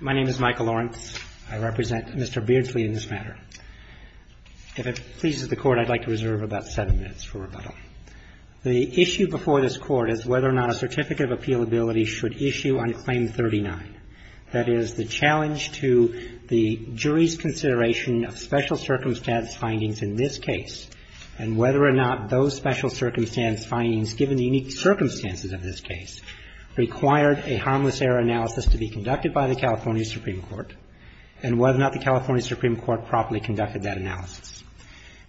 My name is Michael Lawrence. I represent Mr. Beardslee in this matter. If it pleases the Court, I'd like to reserve about seven minutes for rebuttal. The issue before this Court is whether or not a certificate of appealability should issue on Claim 39. That is, the challenge to the jury's consideration of special circumstance findings in this case, and whether or not those special circumstance findings, given the unique circumstances of this case, required a harmless error analysis to be conducted by the California Supreme Court, and whether or not the California Supreme Court properly conducted that analysis.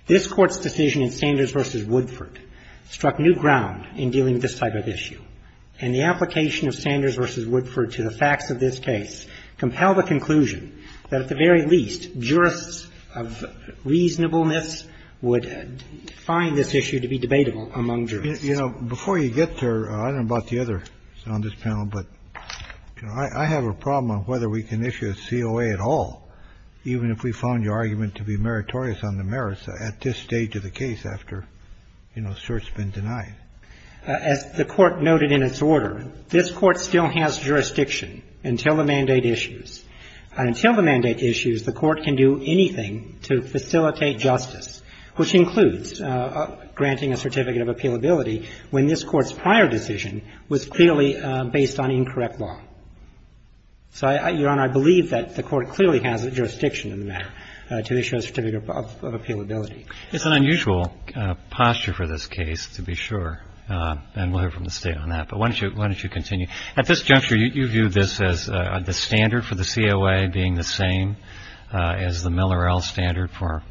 This Court's decision in Sanders v. Woodford struck new ground in dealing with this type of issue, and the application of Sanders v. Woodford to the facts of this case compelled the conclusion that at the very least jurists of reasonableness would find this issue to be debatable among jurists. Kennedy, you know, before you get there, I don't know about the others on this panel, but I have a problem on whether we can issue a COA at all, even if we found your argument to be meritorious on the merits at this stage of the case after, you know, cert's been denied. As the Court noted in its order, this Court still has jurisdiction until the mandate issues. Until the mandate issues, the Court can do anything to facilitate justice, which includes granting a certificate of appealability when this Court's prior decision was clearly based on incorrect law. So, Your Honor, I believe that the Court clearly has jurisdiction in the matter to issue a certificate of appealability. It's an unusual posture for this case, to be sure, and we'll hear from the State on that. But why don't you continue? At this juncture, you view this as the standard for the COA being the same as the Miller-Ell standard for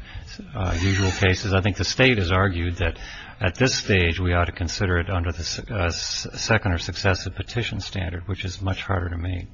usual cases. I think the State has argued that at this stage we ought to consider it under the second or successive petition standard, which is much harder to meet.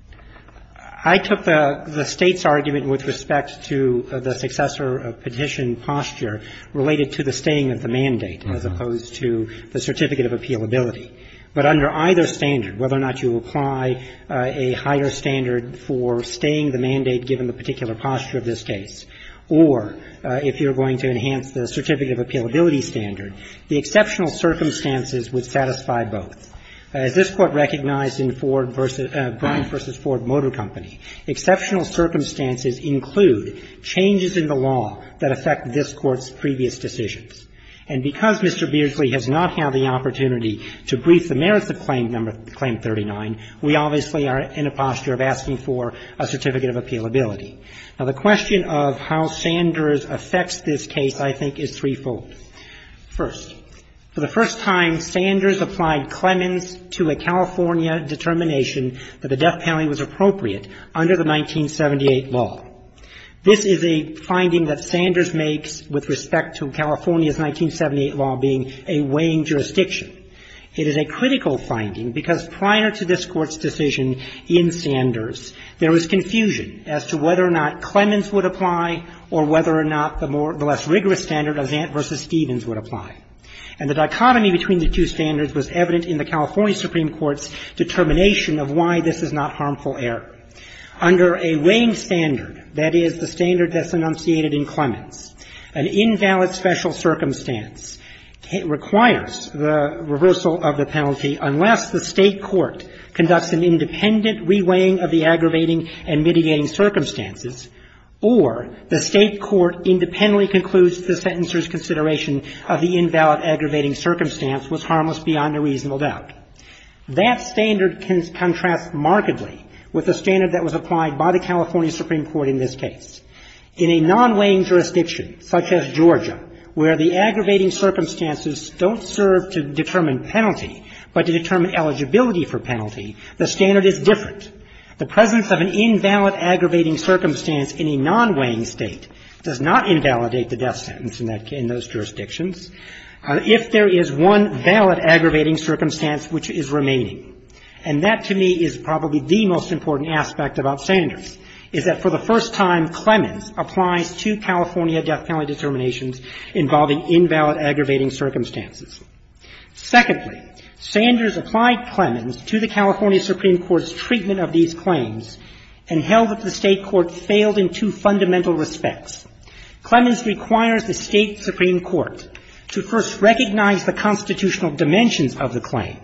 I took the State's argument with respect to the successor petition posture related to the staying of the mandate as opposed to the certificate of appealability. But under either standard, whether or not you apply a higher standard for staying the mandate given the particular posture of this case, or if you're going to enhance the certificate of appealability standard, the exceptional circumstances would satisfy both. As this Court recognized in Ford versus Brine v. Ford Motor Company, exceptional circumstances include changes in the law that affect this Court's previous decisions. And because Mr. Beardsley has not had the opportunity to brief the merits of Claim 39, we obviously are in a posture of asking for a certificate of appealability. Now, the question of how Sanders affects this case, I think, is threefold. First, for the first time, Sanders applied Clemens to a California determination that the death penalty was appropriate under the 1978 law. This is a finding that Sanders makes with respect to California's 1978 law being a weighing jurisdiction. It is a critical finding because prior to this Court's decision in Sanders, there was confusion as to whether or not Clemens would apply or whether or not the more the less rigorous standard of Vant v. Stevens would apply. And the dichotomy between the two standards was evident in the California Supreme Court's determination of why this is not harmful error. Under a weighing standard, that is, the standard that's enunciated in Clemens, an invalid special circumstance requires the reversal of the penalty unless the State court conducts an independent re-weighing of the aggravating and mitigating circumstances or the State court independently concludes the sentencer's consideration of the invalid aggravating circumstance was harmless beyond a reasonable doubt. That standard contrasts markedly with the standard that was applied by the California Supreme Court in this case. In a non-weighing jurisdiction, such as Georgia, where the aggravating circumstances don't serve to determine penalty but to determine eligibility for penalty, the standard is different. The presence of an invalid aggravating circumstance in a non-weighing State does not invalidate the death sentence in those jurisdictions if there is one valid aggravating circumstance which is remaining. And that, to me, is probably the most important aspect about Sanders, is that for the first time, Clemens applies two California death penalty determinations involving invalid aggravating circumstances. Secondly, Sanders applied Clemens to the California Supreme Court's treatment of these claims and held that the State court failed in two fundamental respects. Clemens requires the State supreme court to first recognize the constitutional dimensions of the claim,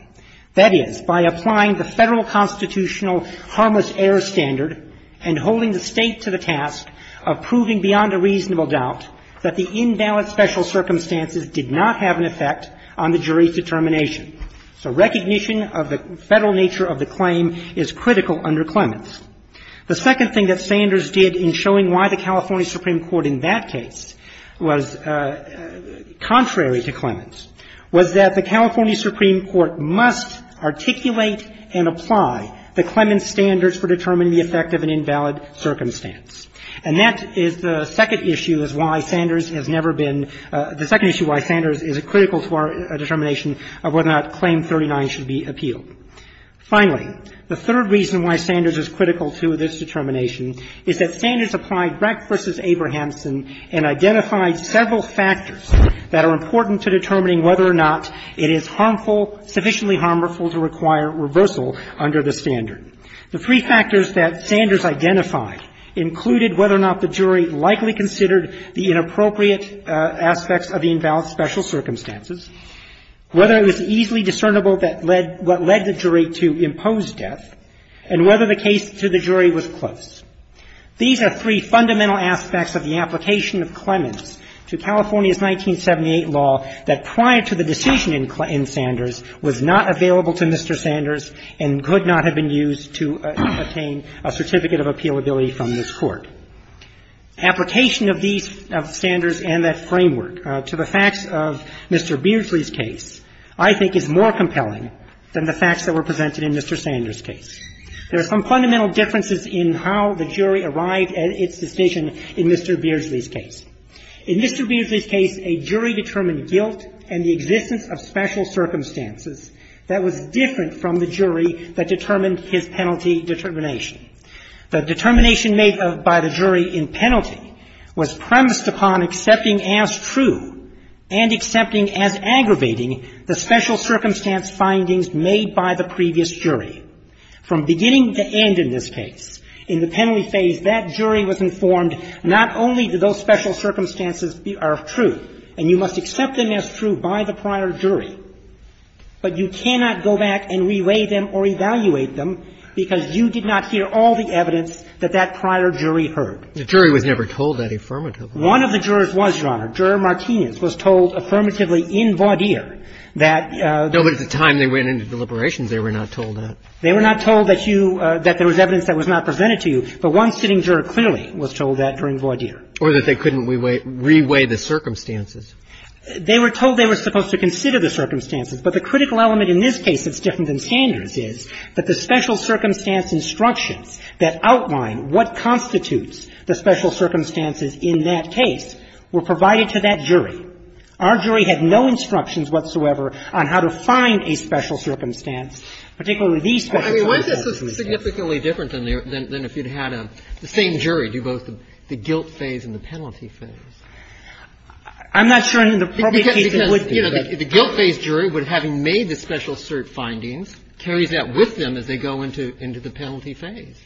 that is, by applying the Federal constitutional harmless error standard and holding the State to the task of proving beyond a reasonable doubt that the invalid special circumstances did not have an effect on the jury's determination. So recognition of the Federal nature of the claim is critical under Clemens. The second thing that Sanders did in showing why the California Supreme Court in that case was contrary to Clemens was that the California Supreme Court must articulate and apply the Clemens standards for determining the effect of an invalid circumstance. And that is the second issue is why Sanders has never been – the second issue why Sanders is critical to our determination of whether or not Claim 39 should be appealed. Finally, the third reason why Sanders is critical to this determination is that Sanders applied Brecht v. Abrahamson and identified several factors that are important to determining whether or not it is harmful, sufficiently harmful to require reversal under the standard. The three factors that Sanders identified included whether or not the jury likely considered the inappropriate aspects of the invalid special circumstances, whether it was easily discernible that led – what led the jury to impose death, and whether the case to the jury was close. These are three fundamental aspects of the application of Clemens to California's 1978 law that prior to the decision in Sanders was not available to Mr. Sanders and could not have been used to obtain a certificate of appealability from this Court. Application of these standards and that framework to the facts of Mr. Beardsley's case I think is more compelling than the facts that were presented in Mr. Sanders' case. There are some fundamental differences in how the jury arrived at its decision in Mr. Beardsley's case. In Mr. Beardsley's case, a jury determined guilt and the existence of special circumstances that was different from the jury that determined his penalty determination. The determination made by the jury in penalty was premised upon accepting as true and accepting as aggravating the special circumstance findings made by the previous jury. From beginning to end in this case, in the penalty phase, that jury was informed not only do those special circumstances are true and you must accept them as true by the prior jury, but you cannot go back and re-weigh them or evaluate them because you did not hear all the evidence that that prior jury heard. The jury was never told that affirmatively. One of the jurors was, Your Honor. Juror Martinez was told affirmatively in voir dire that the – No, but at the time they went into deliberations, they were not told that. They were not told that you – that there was evidence that was not presented to you, but one sitting juror clearly was told that during voir dire. Or that they couldn't re-weigh the circumstances. They were told they were supposed to consider the circumstances. But the critical element in this case that's different than Sanders' is that the special circumstance instructions that outline what constitutes the special circumstances in that case were provided to that jury. Our jury had no instructions whatsoever on how to find a special circumstance, particularly these special circumstances. I mean, wouldn't this be significantly different than if you'd had the same jury do both the guilt phase and the penalty phase? I'm not sure in the public case it would be. Because, you know, the guilt phase jury, having made the special cert findings, carries that with them as they go into the penalty phase.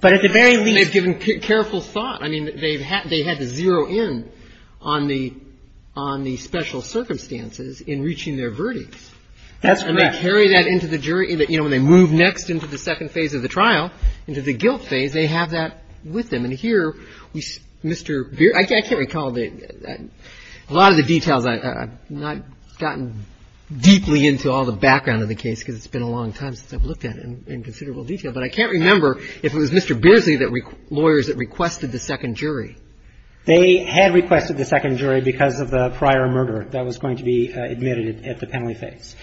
But at the very least – They've given careful thought. I mean, they've had to zero in on the special circumstances in reaching their verdicts. That's correct. And they carry that into the jury. You know, when they move next into the second phase of the trial, into the guilt phase, they have that with them. And here, Mr. Beardsley – I can't recall a lot of the details. I've not gotten deeply into all the background of the case because it's been a long time since I've looked at it in considerable detail. But I can't remember if it was Mr. Beardsley that – lawyers that requested the second jury. They had requested the second jury because of the prior murder that was going to be admitted at the penalty phase.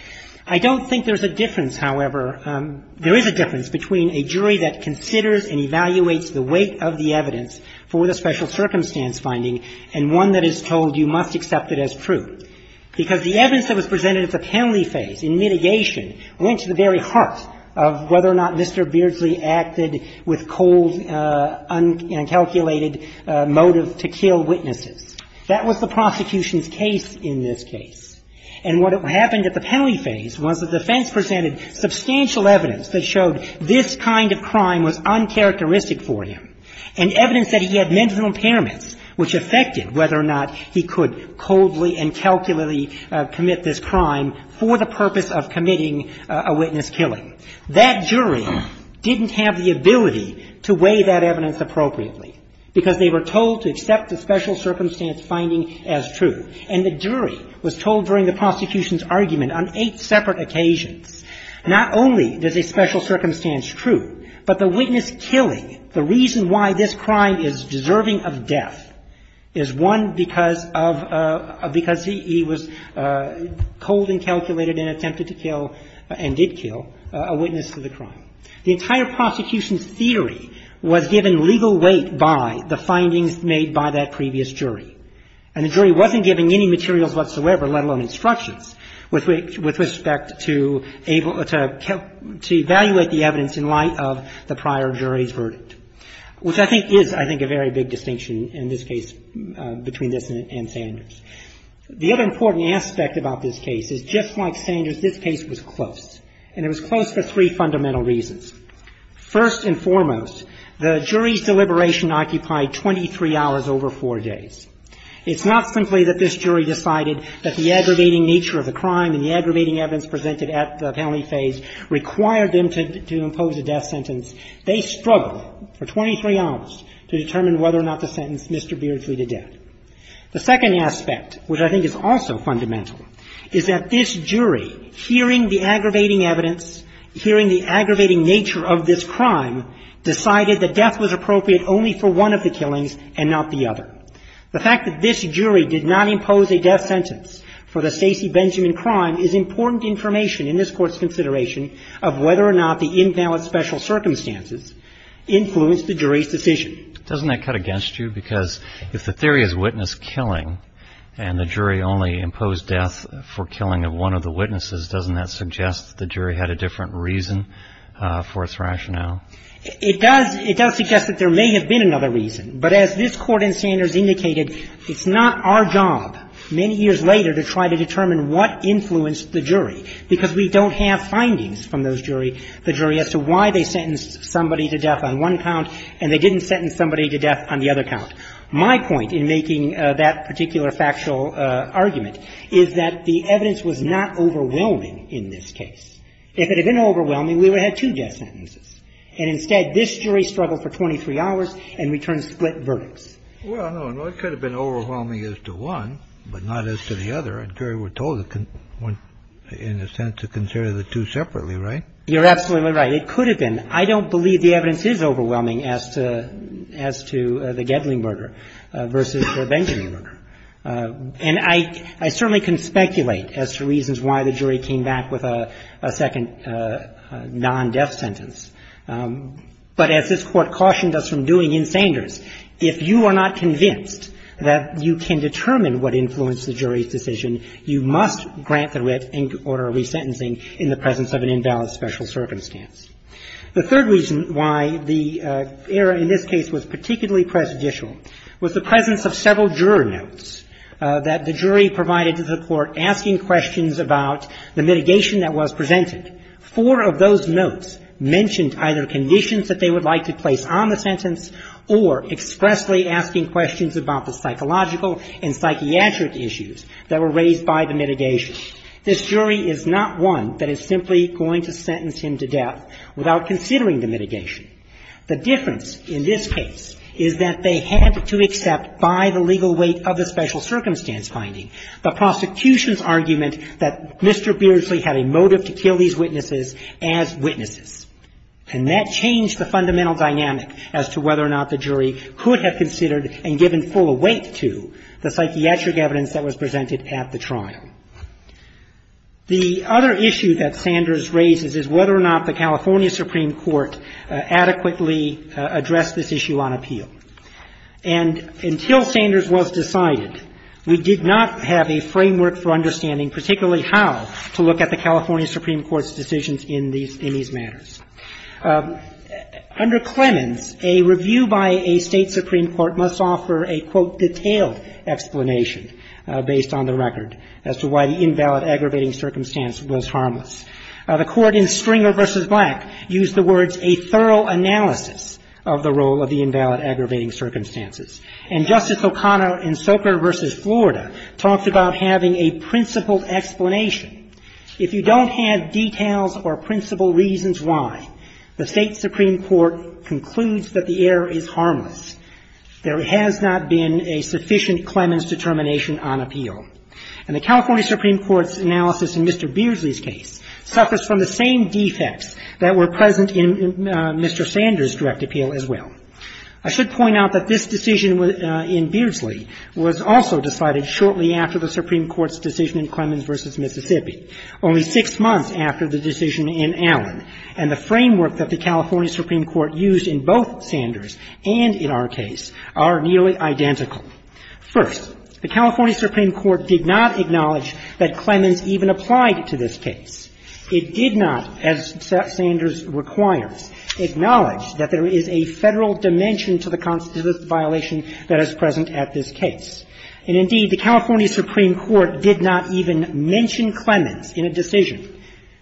I don't think there's a difference, however. There is a difference between a jury that considers and evaluates the weight of the evidence for the special circumstance finding and one that is told you must accept it as true, because the evidence that was presented at the penalty phase in mitigation went to the very heart of whether or not Mr. Beardsley acted with cold, uncalculated motive to kill witnesses. That was the prosecution's case in this case. And what happened at the penalty phase was the defense presented substantial evidence that showed this kind of crime was uncharacteristic for him, and evidence that he had mental impairments, which affected whether or not he could coldly and calculatedly commit this crime for the purpose of committing a witness killing. That jury didn't have the ability to weigh that evidence appropriately because they were told to accept the special circumstance finding as true. And the jury was told during the prosecution's argument on eight separate occasions, not only is a special circumstance true, but the witness killing, the reason why this crime is deserving of death is, one, because of he was cold and calculated and attempted to kill and did kill a witness to the crime. The entire prosecution's theory was given legal weight by the findings made by that previous jury. And the jury wasn't given any materials whatsoever, let alone instructions, with respect to able to evaluate the evidence in light of the prior jury's verdict, which I think is, I think, a very big distinction in this case between this and Sanders. The other important aspect about this case is just like Sanders, this case was close, and it was close for three fundamental reasons. First and foremost, the jury's deliberation occupied 23 hours over four days. It's not simply that this jury decided that the aggravating nature of the crime and the aggravating evidence presented at the penalty phase required them to impose a death sentence. They struggled for 23 hours to determine whether or not to sentence Mr. Beardsley to death. The second aspect, which I think is also fundamental, is that this jury, hearing the aggravating evidence, hearing the aggravating nature of this crime, decided that death was appropriate only for one of the killings and not the other. The fact that this jury did not impose a death sentence for the Stacey Benjamin crime is important information in this Court's consideration of whether or not the invalid special circumstances influenced the jury's decision. Doesn't that cut against you? Because if the theory is witness killing and the jury only imposed death for killing of one of the witnesses, doesn't that suggest that the jury had a different reason for its rationale? It does. It does suggest that there may have been another reason. But as this Court in Sanders indicated, it's not our job, many years later, to try to determine what influenced the jury, because we don't have findings from those jury as to why they sentenced somebody to death on one count and they didn't sentence somebody to death on the other count. My point in making that particular factual argument is that the evidence was not overwhelming in this case. If it had been overwhelming, we would have had two death sentences. And instead, this jury struggled for 23 hours and returned split verdicts. Well, no. It could have been overwhelming as to one, but not as to the other. A jury were told, in a sense, to consider the two separately, right? You're absolutely right. It could have been. I don't believe the evidence is overwhelming as to the Gedling murder versus the Benjamin murder. And I certainly can speculate as to reasons why the jury came back with a second non-death sentence. But as this Court cautioned us from doing in Sanders, if you are not convinced that you can determine what influenced the jury's decision, you must grant the writ and order a resentencing in the presence of an invalid special circumstance. The third reason why the error in this case was particularly prejudicial was the presence of several juror notes that the jury provided to the Court asking questions about the mitigation that was presented. Four of those notes mentioned either conditions that they would like to place on the sentence or expressly asking questions about the psychological and psychiatric issues that were raised by the mitigation. This jury is not one that is simply going to sentence him to death without considering the mitigation. The difference in this case is that they had to accept by the legal weight of the special circumstance finding the prosecution's argument that Mr. Beardsley had a motive to kill these witnesses as witnesses. And that changed the fundamental dynamic as to whether or not the jury could have considered and given full weight to the psychiatric evidence that was presented at the trial. The other issue that Sanders raises is whether or not the California Supreme Court adequately addressed this issue on appeal. And until Sanders was decided, we did not have a framework for understanding particularly how to look at the California Supreme Court's decisions in these matters. Under Clemens, a review by a State supreme court must offer a, quote, detailed explanation based on the record as to why the invalid aggravating circumstance was harmless. The court in Stringer v. Black used the words a thorough analysis of the role of the invalid aggravating circumstances. And Justice O'Connor in Soker v. Florida talked about having a principled explanation. If you don't have details or principled reasons why, the State supreme court concludes that the error is harmless. There has not been a sufficient Clemens determination on appeal. And the California Supreme Court's analysis in Mr. Beardsley's case suffers from the same defects that were present in Mr. Sanders' direct appeal as well. I should point out that this decision in Beardsley was also decided shortly after the Supreme Court's decision in Clemens v. Mississippi, only six months after the decision in Allen. And the framework that the California Supreme Court used in both Sanders and in our case are nearly identical. First, the California Supreme Court did not acknowledge that Clemens even applied to this case. It did not, as Sanders requires, acknowledge that there is a Federal dimension to the constitutional violation that is present at this case. And indeed, the California Supreme Court did not even mention Clemens in a decision in Mississippi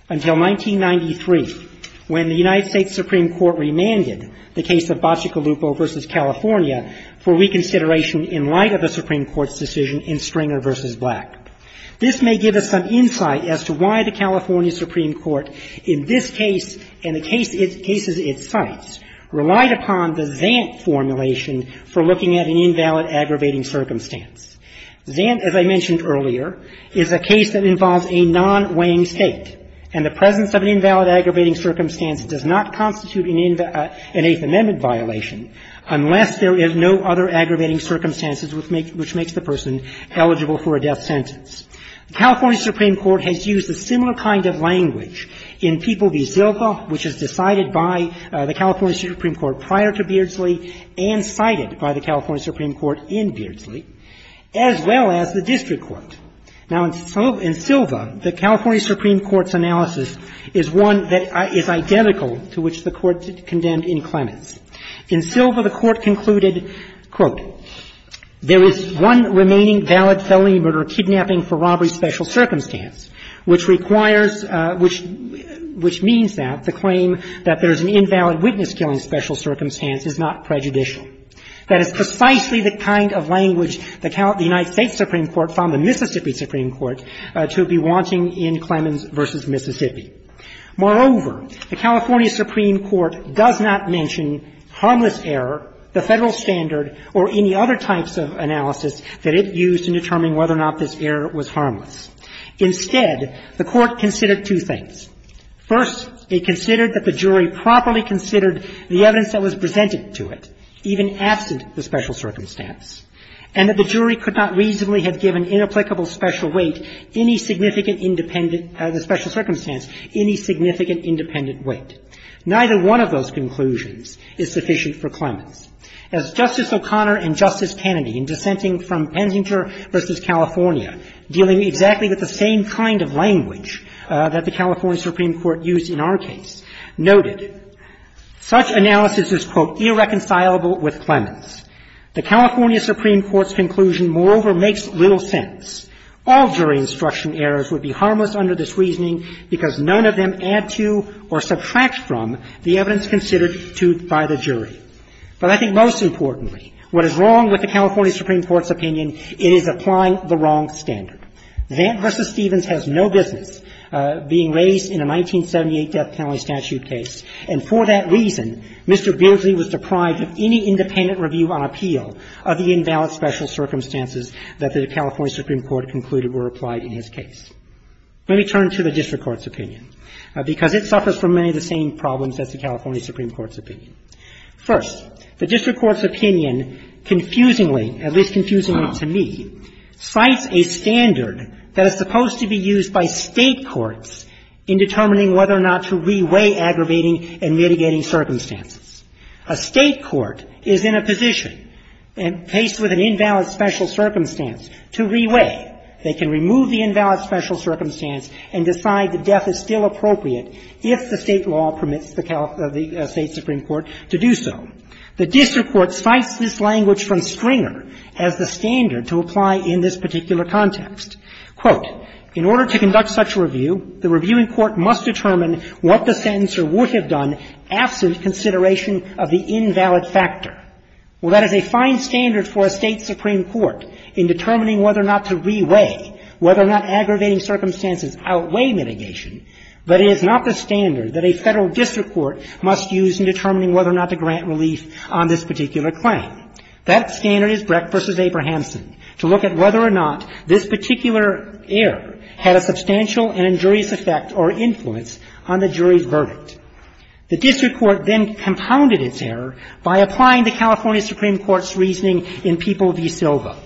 until 1993, when the United States Supreme Court remanded the case of Bacigalupo v. California for reconsideration in light of the Supreme Court's decision in Stringer v. Black. This may give us some insight as to why the California Supreme Court in this case and the cases it cites relied upon the Zant formulation for looking at an invalid aggravating circumstance. Zant, as I mentioned earlier, is a case that involves a non-weighing State, and the presence of an invalid aggravating circumstance does not constitute an Eighth Amendment violation unless there is no other aggravating circumstances which makes the person eligible for a death sentence. The California Supreme Court has used a similar kind of language in People v. Zilka, which is decided by the California Supreme Court prior to Beardsley and cited by the as well as the district court. Now, in Zilka, the California Supreme Court's analysis is one that is identical to which the Court condemned in Clemens. In Zilka, the Court concluded, quote, there is one remaining valid felony murder, kidnapping for robbery special circumstance, which requires — which means that the claim that there is an invalid witness killing special circumstance is not prejudicial. That is precisely the kind of language that the United States Supreme Court found the Mississippi Supreme Court to be wanting in Clemens v. Mississippi. Moreover, the California Supreme Court does not mention harmless error, the Federal standard, or any other types of analysis that it used in determining whether or not this error was harmless. Instead, the Court considered two things. First, it considered that the jury properly considered the evidence that was presented to it, even absent the special circumstance, and that the jury could not reasonably have given inapplicable special weight any significant independent — the special circumstance any significant independent weight. Neither one of those conclusions is sufficient for Clemens. As Justice O'Connor and Justice Kennedy, in dissenting from Penzinger v. California, dealing exactly with the same kind of language that the California Supreme Court used in our case, noted, such analysis is, quote, irreconcilable with Clemens. The California Supreme Court's conclusion, moreover, makes little sense. All jury instruction errors would be harmless under this reasoning because none of them add to or subtract from the evidence considered to — by the jury. But I think most importantly, what is wrong with the California Supreme Court's opinion, it is applying the wrong standard. Vant v. Stevens has no business being raised in a 1978 death penalty statute case, and for that reason, Mr. Beardsley was deprived of any independent review on appeal of the invalid special circumstances that the California Supreme Court concluded were applied in his case. Let me turn to the district court's opinion, because it suffers from many of the same problems as the California Supreme Court's opinion. First, the district court's opinion, at least confusingly to me, cites a standard that is supposed to be used by State courts in determining whether or not to re-weigh aggravating and mitigating circumstances. A State court is in a position, faced with an invalid special circumstance, to re-weigh. They can remove the invalid special circumstance and decide that death is still appropriate if the State law permits the State supreme court to do so. The has the standard to apply in this particular context. Quote, In order to conduct such a review, the reviewing court must determine what the sentencer would have done absent consideration of the invalid factor. Well, that is a fine standard for a State supreme court in determining whether or not to re-weigh, whether or not aggravating circumstances outweigh mitigation, but it is not the standard that a Federal district court must use in determining whether or not to grant relief on this particular claim. That standard is Brecht v. Abrahamson, to look at whether or not this particular error had a substantial and injurious effect or influence on the jury's verdict. The district court then compounded its error by applying the California Supreme Court's reasoning in People v. Silva,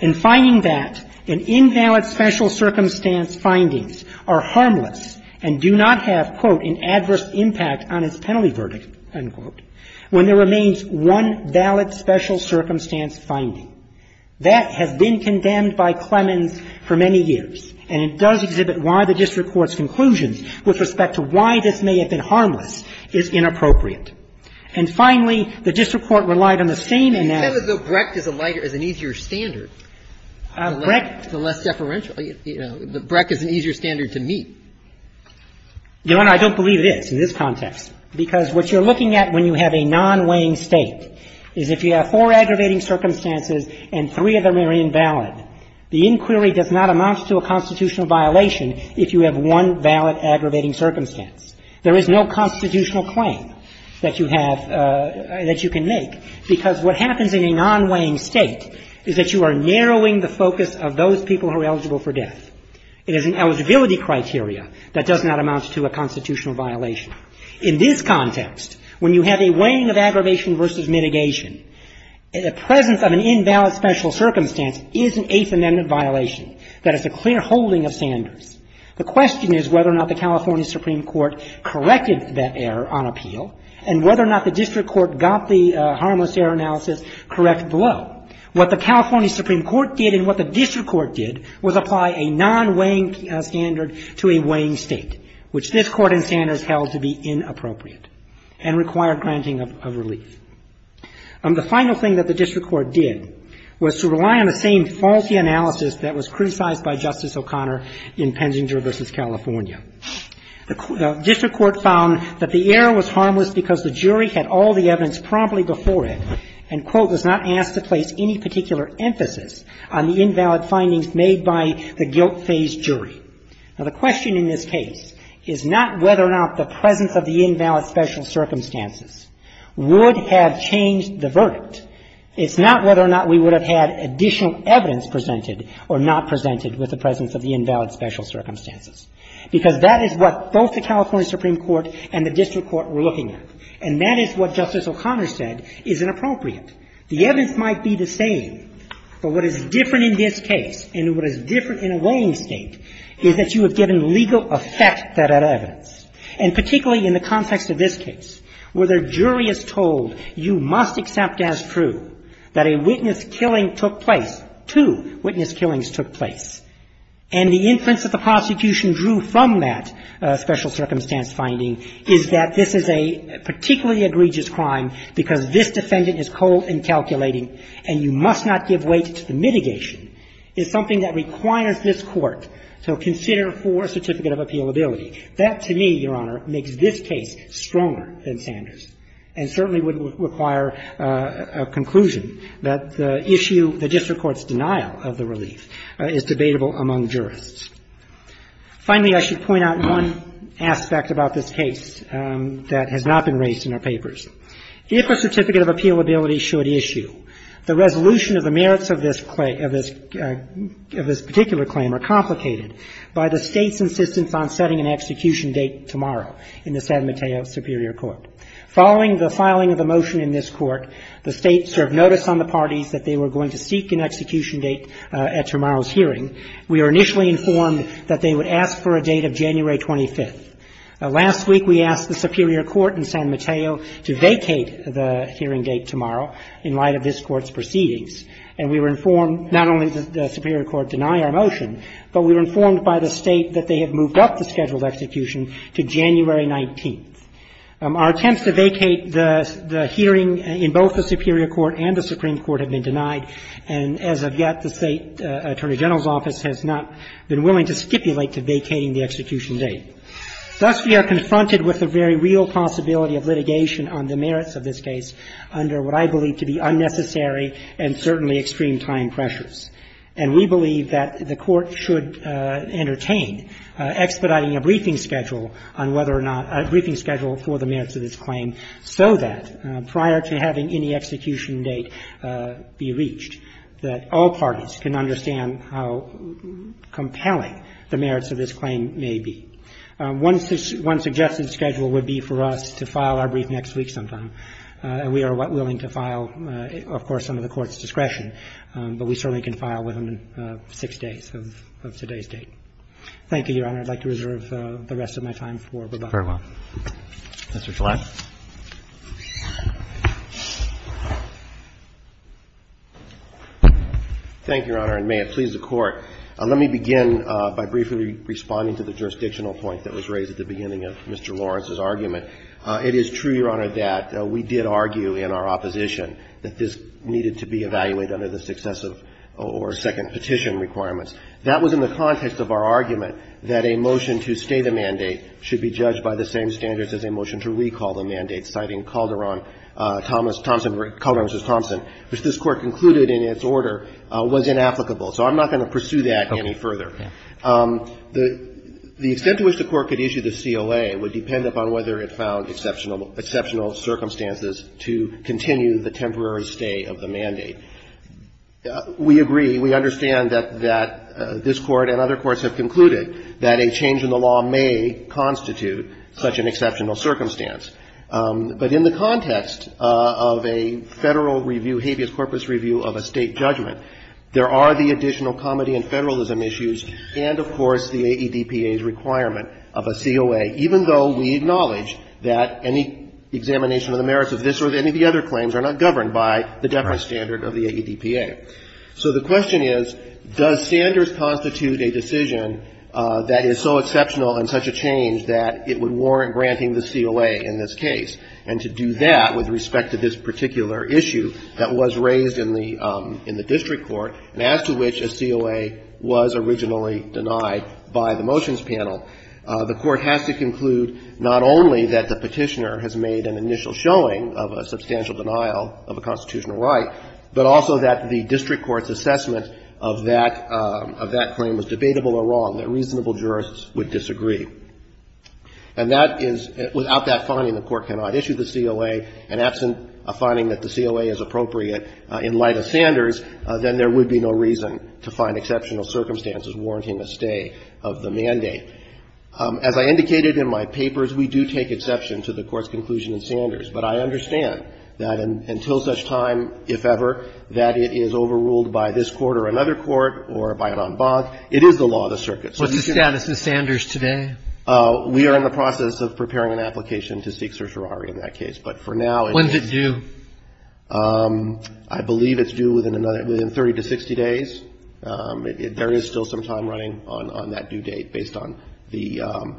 and finding that an invalid special circumstance findings are harmless and do not have, quote, an adverse impact And it does exhibit why the district court's conclusions with respect to why this may have been harmless is inappropriate. And finally, the district court relied on the same analysis. And you said that though Brecht is a lighter, is an easier standard, the less deferential, you know, that Brecht is an easier standard to meet. Your Honor, I don't believe it is in this context, because what you're looking at when you have a non-weighing State is if you have four aggravating circumstances and three of them are invalid, the inquiry does not amount to a constitutional violation if you have one valid aggravating circumstance. There is no constitutional claim that you have — that you can make, because what happens in a non-weighing State is that you are narrowing the focus of those people who are eligible for death. It is an eligibility criteria that does not amount to a constitutional violation. In this context, when you have a weighing of aggravation versus mitigation, the presence of an invalid special circumstance is an Eighth Amendment violation. That is a clear holding of Sanders. The question is whether or not the California Supreme Court corrected that error on appeal and whether or not the district court got the harmless error analysis correct below. What the California Supreme Court did and what the district court did was apply a non-weighing standard to a weighing State, which this Court in Sanders held to be inappropriate and required granting of relief. The final thing that the district court did was to rely on the same faulty analysis that was criticized by Justice O'Connor in Penzinger v. California. The district court found that the error was harmless because the jury had all the evidence promptly before it and, quote, was not asked to place any particular emphasis on the invalid findings made by the guilt-phased jury. Now, the question in this case is not whether or not the presence of the invalid special circumstances would have changed the verdict. It's not whether or not we would have had additional evidence presented or not presented with the presence of the invalid special circumstances, because that is what both the California Supreme Court and the district court were looking at. And that is what Justice O'Connor said is inappropriate. The evidence might be the same, but what is different in this case and what is different in a weighing State is that you have given legal effect to that evidence. And particularly in the context of this case, where the jury is told you must accept as true that a witness killing took place, two witness killings took place, and the inference that the prosecution drew from that special circumstance finding is that this is a particularly egregious crime because this defendant is cold in calculating and you must not give weight to the mitigation, is something that requires the jury to ask this court to consider for a certificate of appealability. That, to me, Your Honor, makes this case stronger than Sanders and certainly would require a conclusion that the issue, the district court's denial of the relief, is debatable among jurists. Finally, I should point out one aspect about this case that has not been raised in our papers. If a certificate of appealability should issue, the resolution of the merits of this claim, of this particular claim, are complicated by the State's insistence on setting an execution date tomorrow in the San Mateo Superior Court. Following the filing of the motion in this Court, the State served notice on the parties that they were going to seek an execution date at tomorrow's hearing. We were initially informed that they would ask for a date of January 25th. Last week, we asked the Superior Court in San Mateo to vacate the hearing date tomorrow in light of this Court's proceedings, and we were informed not only did the Superior Court deny our motion, but we were informed by the State that they had moved up the scheduled execution to January 19th. Our attempts to vacate the hearing in both the Superior Court and the Supreme Court have been denied, and as of yet, the State Attorney General's office has not been willing to stipulate to vacating the execution date. Thus, we are confronted with the very real possibility of litigation on the merits of this case under what I believe to be unnecessary and certainly extreme time pressures. And we believe that the Court should entertain expediting a briefing schedule on whether or not – a briefing schedule for the merits of this claim so that prior to having any execution date be reached, that all parties can understand how compelling the merits of this claim may be. One suggested schedule would be for us to file our brief next week sometime, and we are willing to file, of course, under the Court's discretion, to file within 6 days of today's date. Thank you, Your Honor. I'd like to reserve the rest of my time for rebuttal. Roberts. Mr. Gillette. Thank you, Your Honor, and may it please the Court. Let me begin by briefly responding to the jurisdictional point that was raised at the beginning of Mr. Lawrence's argument. It is true, Your Honor, that we did argue in our opposition that this needed to be a temporary stay or second petition requirements. That was in the context of our argument that a motion to stay the mandate should be judged by the same standards as a motion to recall the mandate, citing Calderon, Thomson, Calderon v. Thomson, which this Court concluded in its order was inapplicable. So I'm not going to pursue that any further. The extent to which the Court could issue the COA would depend upon whether it found exceptional – exceptional circumstances to continue the temporary stay of the mandate. We agree, we understand that this Court and other courts have concluded that a change in the law may constitute such an exceptional circumstance. But in the context of a Federal review, habeas corpus review of a State judgment, there are the additional comity and federalism issues and, of course, the AEDPA's requirement of a COA, even though we acknowledge that any examination of the merits of this or any of the other of the AEDPA. So the question is, does Sanders constitute a decision that is so exceptional and such a change that it would warrant granting the COA in this case? And to do that with respect to this particular issue that was raised in the – in the district court and as to which a COA was originally denied by the motions panel, the Court has to conclude not only that the petitioner has made an initial showing of a substantial denial of a constitutional right, but also that the district court's assessment of that – of that claim was debatable or wrong, that reasonable jurists would disagree. And that is – without that finding, the Court cannot issue the COA. And absent a finding that the COA is appropriate in light of Sanders, then there would be no reason to find exceptional circumstances warranting a stay of the mandate. As I indicated in my papers, we do take exception to the Court's conclusion in Sanders. But I understand that until such time, if ever, that it is overruled by this court or another court or by an en banc, it is the law of the circuit. So you can – What's the status of Sanders today? We are in the process of preparing an application to seek certiorari in that case. But for now it's – When's it due? I believe it's due within another – within 30 to 60 days. There is still some time running on that due date based on the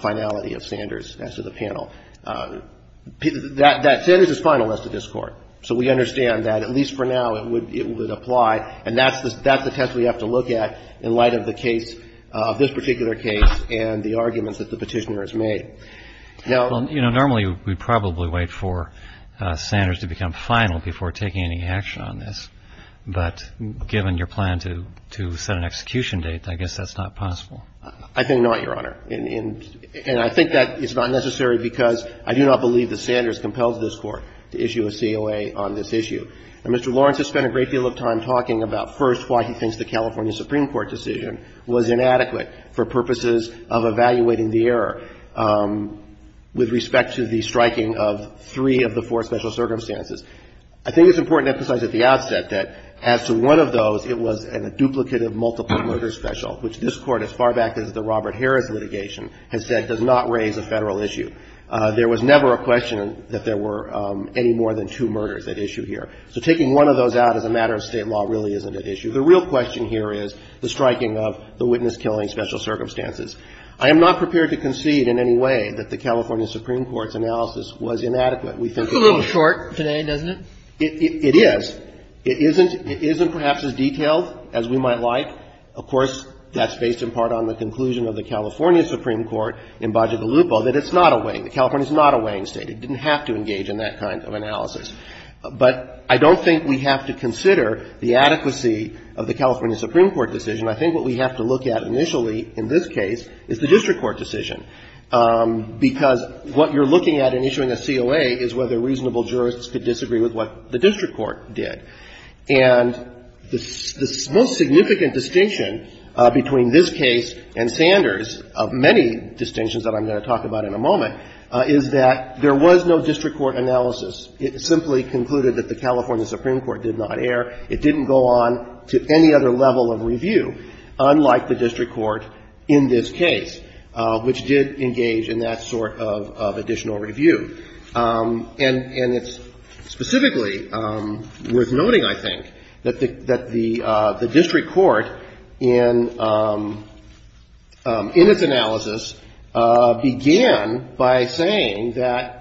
finality of Sanders as to the panel. That – Sanders is final as to this Court. So we understand that at least for now it would – it would apply. And that's the – that's the test we have to look at in light of the case – of this particular case and the arguments that the Petitioner has made. Now – Well, you know, normally we'd probably wait for Sanders to become final before taking any action on this. But given your plan to – to set an execution date, I guess that's not possible. I think not, Your Honor. And – and I think that is not necessary because I do not believe that Sanders compels this Court to issue a COA on this issue. Now, Mr. Lawrence has spent a great deal of time talking about, first, why he thinks the California Supreme Court decision was inadequate for purposes of evaluating the error with respect to the striking of three of the four special circumstances. I think it's important to emphasize at the outset that as to one of those, it was a duplicative, multiple-murder special, which this Court, as far back as the Robert Harris litigation, has said does not raise a Federal issue. There was never a question that there were any more than two murders at issue here. So taking one of those out as a matter of State law really isn't at issue. The real question here is the striking of the witness-killing special circumstances. I am not prepared to concede in any way that the California Supreme Court's analysis was inadequate. We think it was. It's a little short today, doesn't it? It is. It isn't – it isn't perhaps as detailed as we might like. Of course, that's based in part on the conclusion of the California Supreme Court in Baja de Lupo that it's not a weighing – that California is not a weighing State. It didn't have to engage in that kind of analysis. But I don't think we have to consider the adequacy of the California Supreme Court decision. I think what we have to look at initially in this case is the district court decision because what you're looking at in issuing a COA is whether reasonable jurists could disagree with what the district court did. And the most significant distinction between this case and Sanders, of many distinctions that I'm going to talk about in a moment, is that there was no district court analysis. It simply concluded that the California Supreme Court did not err. It didn't go on to any other level of review, unlike the district court in this case, which did engage in that sort of additional review. And it's specifically worth noting, I think, that the district court in its analysis began by saying that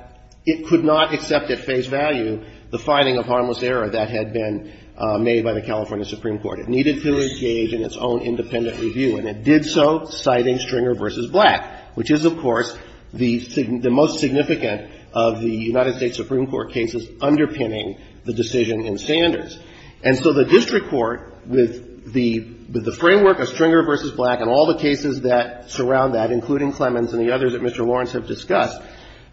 it could not accept at face value the finding of harmless error that had been made by the California Supreme Court. It needed to engage in its own independent review. And it did so, citing Stringer v. Black, which is, of course, the most significant of the United States Supreme Court cases underpinning the decision in Sanders. And so the district court, with the framework of Stringer v. Black and all the cases that surround that, including Clemens and the others that Mr. Lawrence has discussed,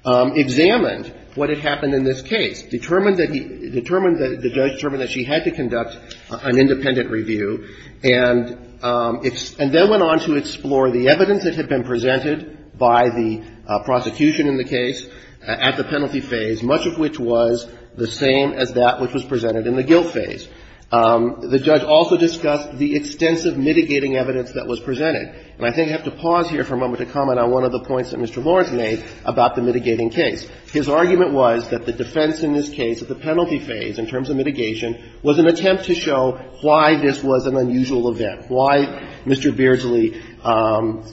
examined what had happened in this case, determined that he – determined that the judge determined that she had to conduct an independent review, and examined that, and then went on to explore the evidence that had been presented by the prosecution in the case at the penalty phase, much of which was the same as that which was presented in the guilt phase. The judge also discussed the extensive mitigating evidence that was presented. And I think I have to pause here for a moment to comment on one of the points that Mr. Lawrence made about the mitigating case. His argument was that the defense in this case at the penalty phase, in terms of mitigation, was an attempt to show why this was an unusual event, why Mr. Beardsley's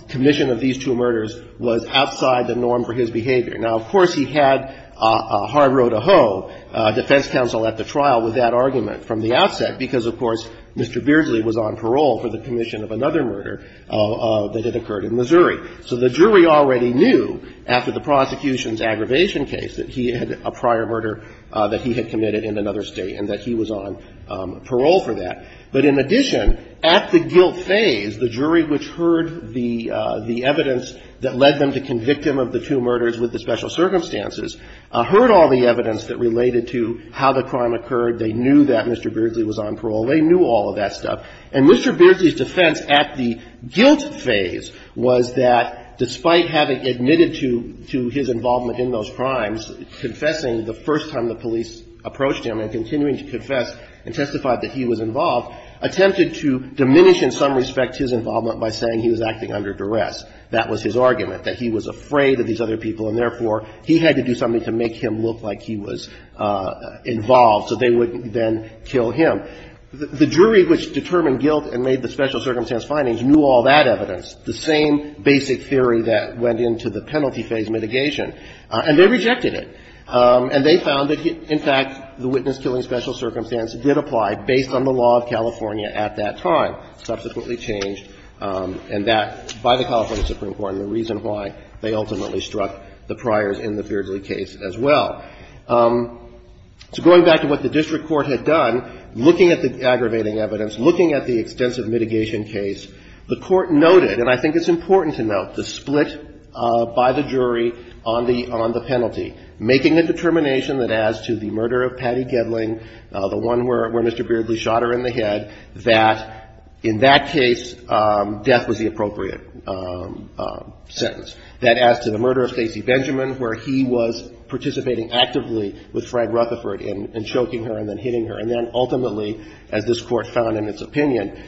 commission of these two murders was outside the norm for his behavior. Now, of course, he had a hard row to hoe, defense counsel at the trial, with that argument from the outset, because, of course, Mr. Beardsley was on parole for the commission of another murder that had occurred in Missouri. So the jury already knew, after the prosecution's aggravation case, that he had a prior murder that he had committed in another State, and that he was on parole for that. But in addition, at the guilt phase, the jury which heard the evidence that led them to convict him of the two murders with the special circumstances heard all the evidence that related to how the crime occurred. They knew that Mr. Beardsley was on parole. They knew all of that stuff. And Mr. Beardsley's defense at the guilt phase was that, despite having admitted to his involvement in those crimes, confessing the first time the police approached him and continuing to confess and testify that he was involved, attempted to diminish in some respect his involvement by saying he was acting under duress. That was his argument, that he was afraid of these other people, and therefore, he had to do something to make him look like he was involved so they would then kill him. The jury which determined guilt and made the special circumstance findings knew all that evidence, the same basic theory that went into the penalty phase mitigation. And they rejected it. And they found that, in fact, the witness-killing special circumstance did apply based on the law of California at that time, subsequently changed, and that, by the California Supreme Court, and the reason why they ultimately struck the priors in the Beardsley case as well. So going back to what the district court had done, looking at the aggravating evidence, looking at the extensive mitigation case, the Court noted, and I think it's important to note, the split by the jury on the penalty, making a determination that as to the murder of Patty Gedling, the one where Mr. Beardsley shot her in the head, that in that case, death was the appropriate sentence. That as to the murder of Stacy Benjamin, where he was participating actively with Fred Rutherford in choking her and then hitting her, and then ultimately, as this Court found in its opinion,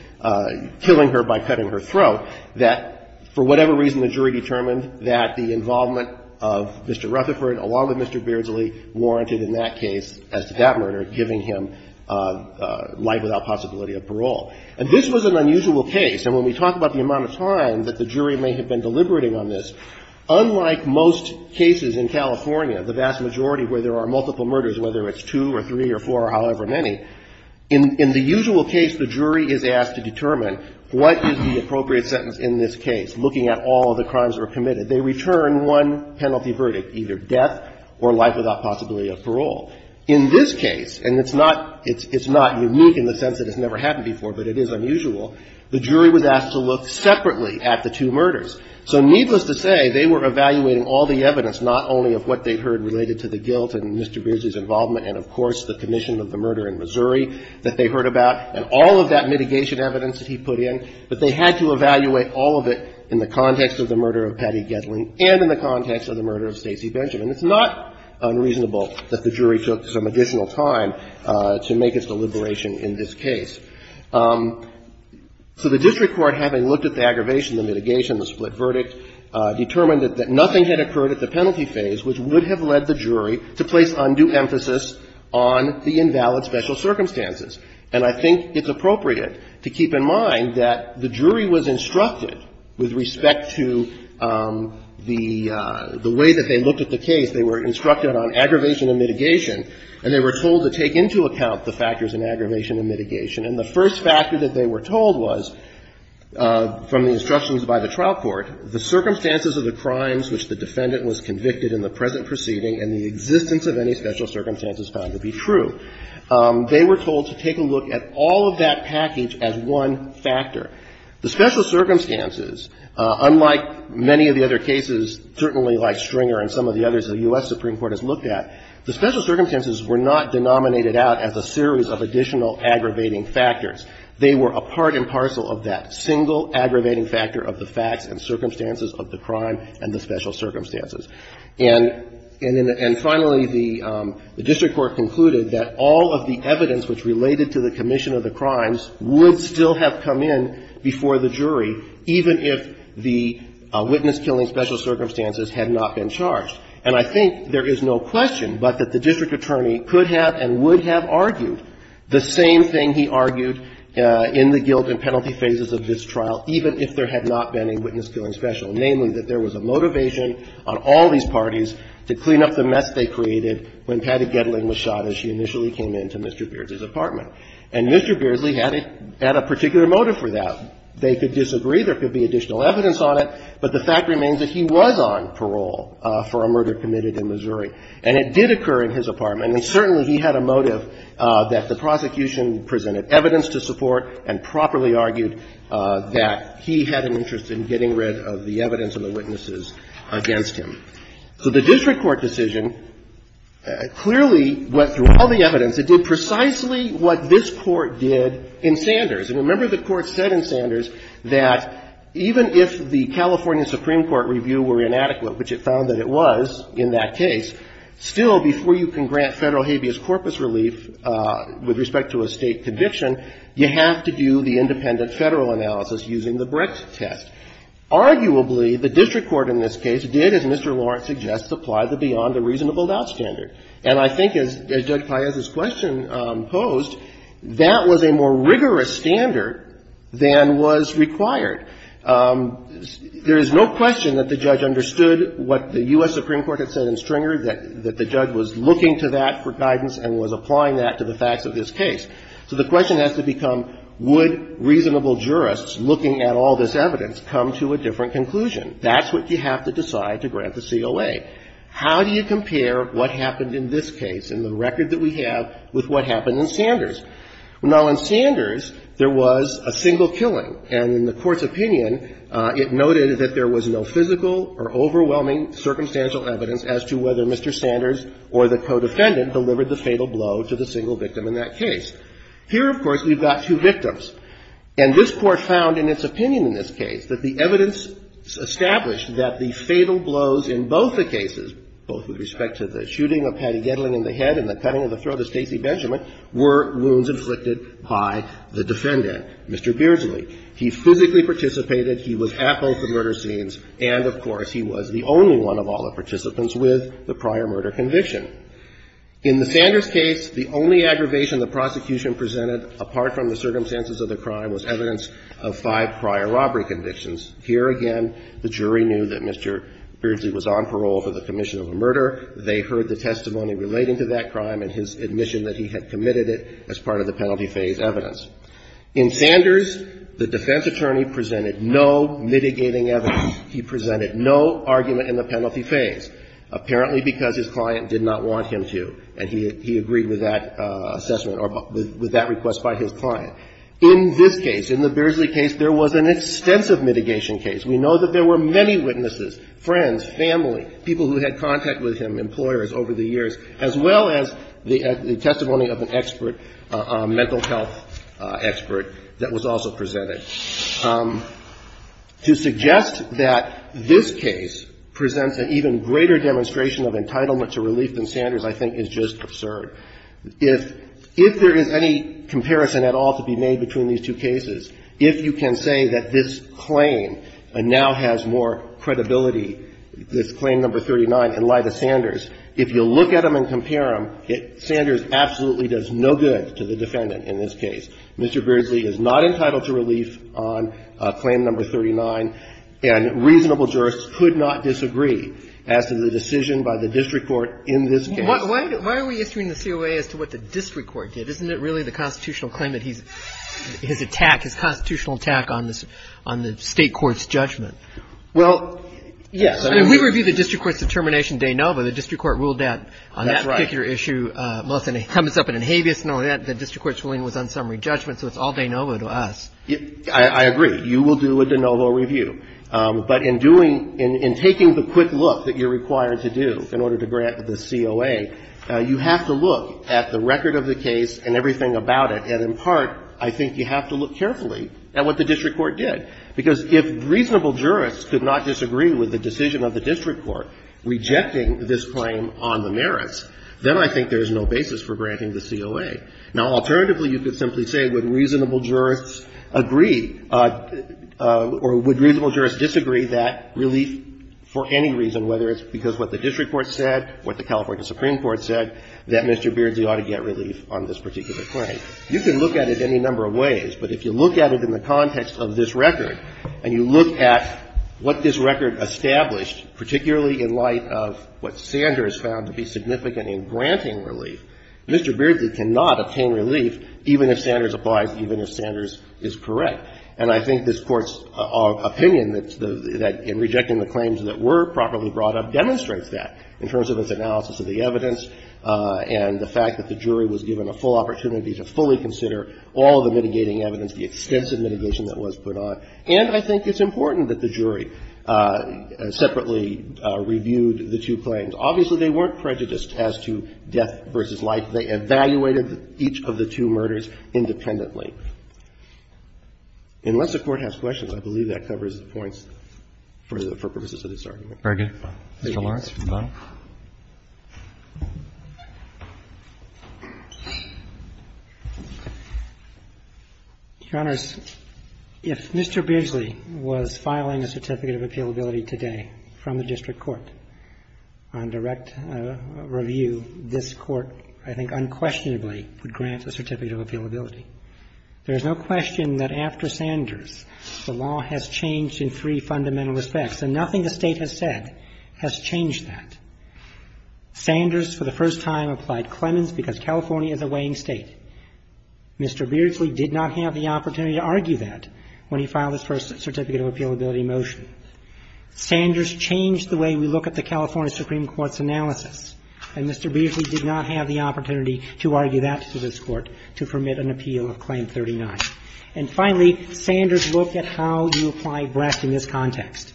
killing her by cutting her throat, that for whatever reason, the jury determined that the involvement of Mr. Rutherford, along with Mr. Beardsley, warranted in that case, as to that murder, giving him life without possibility of parole. And this was an unusual case. And when we talk about the amount of time that the jury may have been deliberating on this, unlike most cases in California, the vast majority where there are multiple murders, whether it's two or three or four or however many, in the usual case, the jury is asked to determine what is the appropriate sentence in this case, looking at all of the crimes that were committed. They return one penalty verdict, either death or life without possibility of parole. In this case, and it's not unique in the sense that it's never happened before, but it is unusual, the jury was asked to look separately at the two murders. So needless to say, they were evaluating all the evidence, not only of what they heard related to the guilt and Mr. Beardsley's involvement and, of course, the commission of the murder in Missouri that they heard about, and all of that mitigation evidence that he put in, but they had to evaluate all of it in the context of the murder of Patty Gettling and in the context of the murder of Stacey Benjamin. It's not unreasonable that the jury took some additional time to make its deliberation in this case. So the district court, having looked at the aggravation, the mitigation, the split verdict, determined that nothing had occurred at the penalty phase which would have led the jury to place undue emphasis on the invalid special circumstances. And I think it's appropriate to keep in mind that the jury was instructed with respect to the way that they looked at the case, they were instructed on aggravation and mitigation, and they were told to take into account the factors in aggravation and mitigation. And the first factor that they were told was, from the instructions by the trial court, the circumstances of the crimes which the defendant was convicted in the present proceeding and the existence of any special circumstances found to be true. They were told to take a look at all of that package as one factor. The special circumstances, unlike many of the other cases, certainly like Stringer and some of the others the U.S. Supreme Court has looked at, the special circumstances were not denominated out as a series of additional aggravating factors. They were a part and parcel of that single aggravating factor of the facts and circumstances of the crime and the special circumstances. And finally, the district court concluded that all of the evidence which related to the commission of the crimes would still have come in before the jury, even if the witness-killing special circumstances had not been charged. And I think there is no question but that the district attorney could have and would have argued the same thing he argued in the guilt and penalty phases of this trial, even if there had not been a witness-killing special, namely that there was a motivation on all of these parties to clean up the mess they created when Patty Gettling was shot as she initially came into Mr. Beardsley's apartment. And Mr. Beardsley had a particular motive for that. They could disagree, there could be additional evidence on it, but the fact remains that he was on parole for a murder committed in Missouri. And it did occur in his apartment, and certainly he had a motive that the prosecution presented evidence to support and properly argued that he had an interest in getting rid of the evidence and the witnesses against him. So the district court decision clearly went through all the evidence. It did precisely what this Court did in Sanders. And remember the Court said in Sanders that even if the California Supreme Court review were inadequate, which it found that it was in that case, still before you can grant Federal habeas corpus relief with respect to a State conviction, you have to do the independent Federal analysis using the Brett test. Arguably, the district court in this case did, as Mr. Lawrence suggests, apply the beyond the reasonable doubt standard. And I think as Judge Paiez's question posed, that was a more rigorous standard than was required. There is no question that the judge understood what the U.S. Supreme Court had said in Stringer, that the judge was looking to that for guidance and was applying that to the facts of this case. So the question has to become, would reasonable jurists looking at all this evidence come to a different conclusion? That's what you have to decide to grant the COA. How do you compare what happened in this case and the record that we have with what happened in Sanders? Now, in Sanders, there was a single killing. And in the Court's opinion, it noted that there was no physical or overwhelming circumstantial evidence as to whether Mr. Sanders or the co-defendant delivered the fatal blow to the single victim in that case. Here, of course, we've got two victims. And this Court found in its opinion in this case that the evidence established that the fatal blows in both the cases, both with respect to the shooting of Patty Gettling in the head and the cutting of the throat of Stacey Benjamin, were wounds inflicted by the defendant, Mr. Beardsley. He physically participated, he was at both the murder scenes, and, of course, he was the only one of all the participants with the prior murder conviction. In the Sanders case, the only aggravation the prosecution presented, apart from the circumstances of the crime, was evidence of five prior robbery convictions. Here again, the jury knew that Mr. Beardsley was on parole for the commission of a murder. They heard the testimony relating to that crime and his admission that he had committed it as part of the penalty phase evidence. In Sanders, the defense attorney presented no mitigating evidence. He presented no argument in the penalty phase, apparently because his client did not want him to, and he agreed with that assessment or with that request by his client. In this case, in the Beardsley case, there was an extensive mitigation case. We know that there were many witnesses, friends, family, people who had contact with him, employers over the years, as well as the testimony of an expert, a mental health expert, that was also presented. To suggest that this case presents an even greater demonstration of entitlement to relief than Sanders, I think, is just absurd. If there is any comparison at all to be made between these two cases, if you can say that this claim now has more credibility, this Claim No. 39, in light of Sanders, if you look at them and compare them, Sanders absolutely does no good to the defendant in this case. Mr. Beardsley is not entitled to relief on Claim No. 39, and reasonable jurists could not disagree as to the decision by the district court in this case. Why are we issuing the COA as to what the district court did? Isn't it really the constitutional claim that he's attacked, his constitutional attack on the state court's judgment? Well, yes. We reviewed the district court's determination de novo. The district court ruled that on that particular issue. Melissa, it comes up in an habeas, and all that. The district court's ruling was unsummary judgment, so it's all de novo to us. I agree. You will do a de novo review. But in doing — in taking the quick look that you're required to do in order to grant the COA, you have to look at the record of the case and everything about it, and in part, I think you have to look carefully at what the district court did, because if reasonable jurists could not disagree with the decision of the district court rejecting this claim on the merits, then I think there's no basis for granting the COA. Now, alternatively, you could simply say, would reasonable jurists agree — or would reasonable jurists disagree that relief for any reason, whether it's because what the district court said, what the California Supreme Court said, that Mr. Beardsley ought to get relief on this particular claim. You can look at it any number of ways, but if you look at it in the context of this record, and you look at what this record established, particularly in light of what Sanders found to be significant in granting relief, Mr. Beardsley cannot obtain relief even if Sanders applies, even if Sanders is correct. And I think this Court's opinion that in rejecting the claims that were properly brought up demonstrates that in terms of its analysis of the evidence and the fact that the jury was given a full opportunity to fully consider all the mitigating evidence, the extensive mitigation that was put on. And I think it's important that the jury separately reviewed the two claims. Obviously, they weren't prejudiced as to death versus life. They evaluated each of the two murders independently. Unless the Court has questions, I believe that covers the points for the purposes of this argument. Roberts. Mr. Lawrence, if you'd like. Lawrence. Your Honors, if Mr. Beardsley was filing a Certificate of Appealability today from the district court on direct review, this Court, I think unquestionably, would grant a Certificate of Appealability. There's no question that after Sanders, the law has changed in three fundamental respects, and nothing the State has said has changed that. Sanders, for the first time, applied Clemens because California is a weighing State. Mr. Beardsley did not have the opportunity to argue that when he filed his first Certificate of Appealability motion. Sanders changed the way we look at the California Supreme Court's analysis, and Mr. Beardsley did not have the opportunity to argue that to this Court to permit an appeal of Claim 39. And finally, Sanders looked at how you apply brass in this context,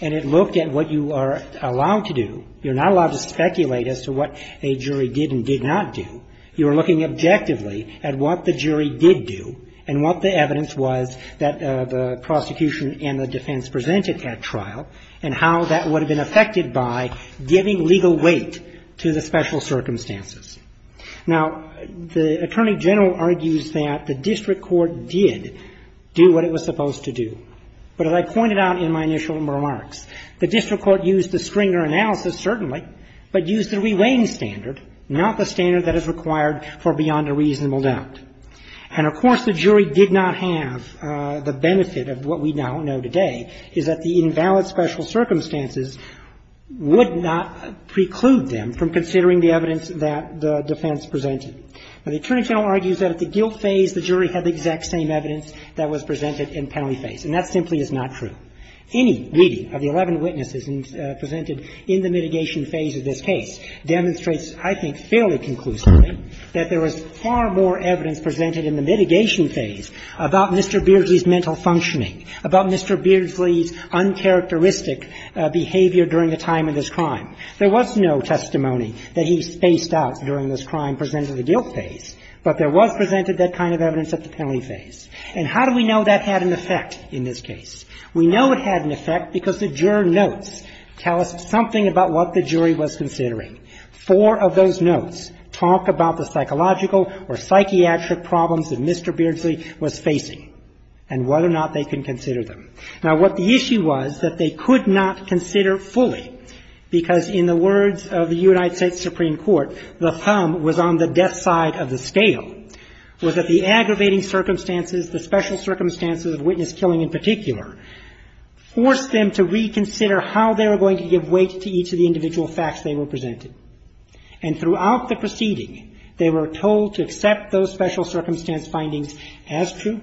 and it looked at what you are allowed to do. You're not allowed to speculate as to what a jury did and did not do. You are looking objectively at what the jury did do and what the evidence was that the prosecution and the defense presented at trial, and how that would have been affected by giving legal weight to the special circumstances. Now, the Attorney General argues that the district court did do what it was supposed to do. But as I pointed out in my initial remarks, the district court used the Stringer analysis, certainly, but used the re-weighing standard, not the standard that is required for beyond a reasonable doubt. And of course, the jury did not have the benefit of what we now know today, is that the invalid special circumstances would not preclude them from considering the evidence that the defense presented. Now, the Attorney General argues that at the guilt phase, the jury had the exact same evidence that was presented in penalty phase. And that simply is not true. Any reading of the 11 witnesses presented in the mitigation phase of this case demonstrates, I think, fairly conclusively, that there was far more evidence presented in the mitigation phase about Mr. Beardsley's mental functioning, about Mr. Beardsley's uncharacteristic behavior during the time of this crime. There was no testimony that he spaced out during this crime presented at the guilt phase, but there was presented that kind of evidence at the penalty phase. And how do we know that had an effect in this case? We know it had an effect because the juror notes tell us something about what the jury was considering. Four of those notes talk about the psychological or psychiatric problems that Mr. Beardsley was facing and whether or not they can consider them. Now, what the issue was that they could not consider fully, because in the words of the United States Supreme Court, the thumb was on the death side of the scale, was that the aggravating circumstances, the special circumstances of witness killing in particular, forced them to reconsider how they were going to give weight to each of the individual facts they were presented. And throughout the proceeding, they were told to accept those special circumstance findings as true.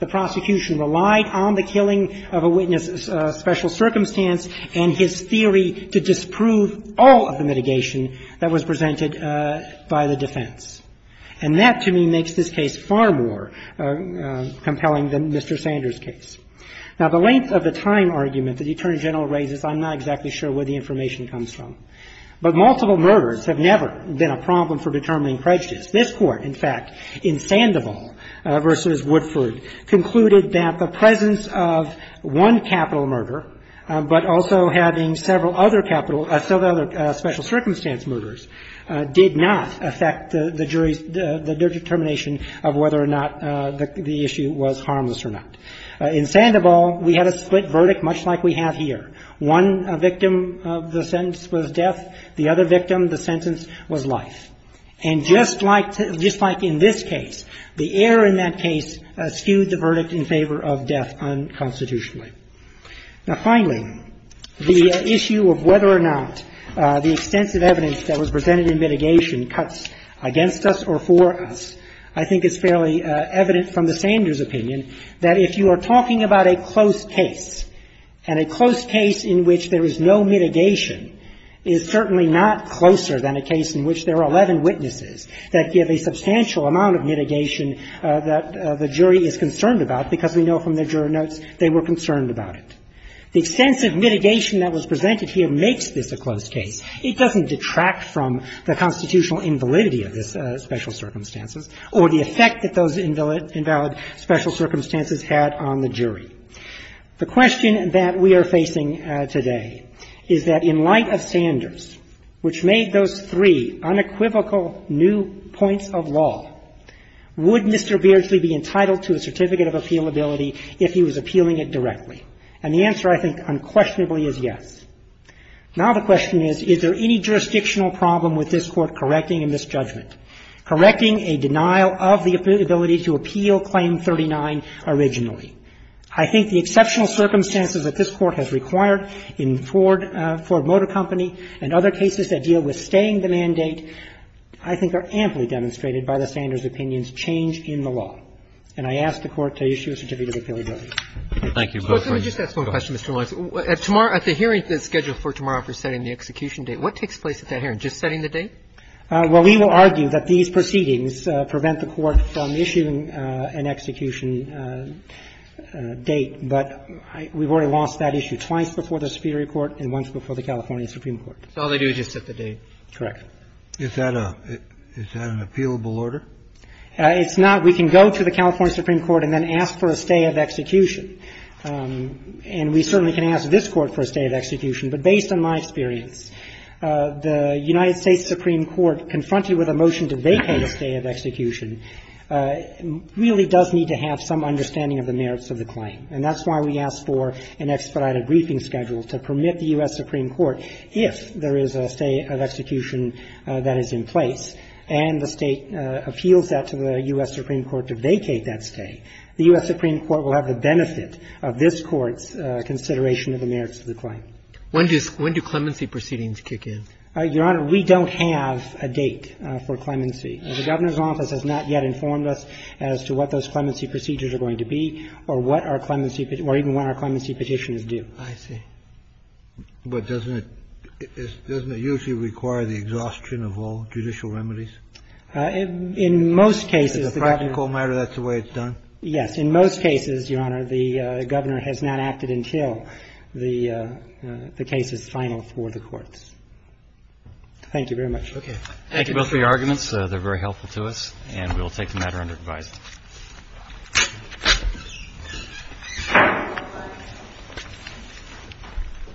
The prosecution relied on the killing of a witness's special circumstance and his theory to disprove all of the mitigation that was presented by the defense. And that, to me, makes this case far more compelling than Mr. Sanders' case. Now, the length of the time argument that the Attorney General raises, I'm not exactly sure where the information comes from. But multiple murders have never been a problem for determining prejudice. This Court, in fact, in Sandoval v. Woodford, concluded that the presence of one capital murder, but also having several other capital – several other special circumstance murders did not affect the jury's – their determination of whether or not the issue was harmless or not. In Sandoval, we had a split verdict, much like we have here. One victim of the sentence was death. The other victim of the sentence was life. And just like – just like in this case, the error in that case skewed the verdict in favor of death unconstitutionally. Now, finally, the issue of whether or not the extensive evidence that was presented in mitigation cuts against us or for us, I think is fairly evident from the Sanders' opinion that if you are talking about a close case, and a close case in which there are 11 witnesses that give a substantial amount of mitigation that the jury is concerned about, because we know from the juror notes they were concerned about it, the extensive mitigation that was presented here makes this a close case. It doesn't detract from the constitutional invalidity of the special circumstances or the effect that those invalid special circumstances had on the jury. The question that we are facing today is that in light of Sanders, which made those three unequivocal new points of law, would Mr. Beardsley be entitled to a certificate of appealability if he was appealing it directly? And the answer, I think, unquestionably is yes. Now the question is, is there any jurisdictional problem with this Court correcting a misjudgment, correcting a denial of the ability to appeal Claim 39 originally? I think the exceptional circumstances that this Court has required in Ford – Ford and the mandate, I think, are amply demonstrated by the Sanders' opinion's change in the law. And I ask the Court to issue a certificate of appealability. Roberts, can I just ask one question, Mr. Lawrence? At the hearing scheduled for tomorrow for setting the execution date, what takes place at that hearing? Just setting the date? Well, we will argue that these proceedings prevent the Court from issuing an execution date, but we've already lost that issue twice before the Superior Court and once before the California Supreme Court. So all they do is just set the date? Correct. Is that a – is that an appealable order? It's not. We can go to the California Supreme Court and then ask for a stay of execution. And we certainly can ask this Court for a stay of execution. But based on my experience, the United States Supreme Court, confronted with a motion to vacate a stay of execution, really does need to have some understanding of the merits of the claim. And that's why we asked for an expedited briefing schedule to permit the U.S. Supreme Court, if there is a stay of execution that is in place, and the State appeals that to the U.S. Supreme Court to vacate that stay, the U.S. Supreme Court will have the benefit of this Court's consideration of the merits of the claim. When does – when do clemency proceedings kick in? Your Honor, we don't have a date for clemency. The Governor's office has not yet informed us as to what those clemency procedures are going to be or what our clemency – or even what our clemency petitions do. I see. But doesn't it – doesn't it usually require the exhaustion of all judicial remedies? In most cases, the Governor – Is it a practical matter that's the way it's done? Yes. In most cases, Your Honor, the Governor has not acted until the case is final for the courts. Thank you very much. Okay. Thank you. Thank you both for your arguments. They're very helpful to us, and we will take the matter under advice.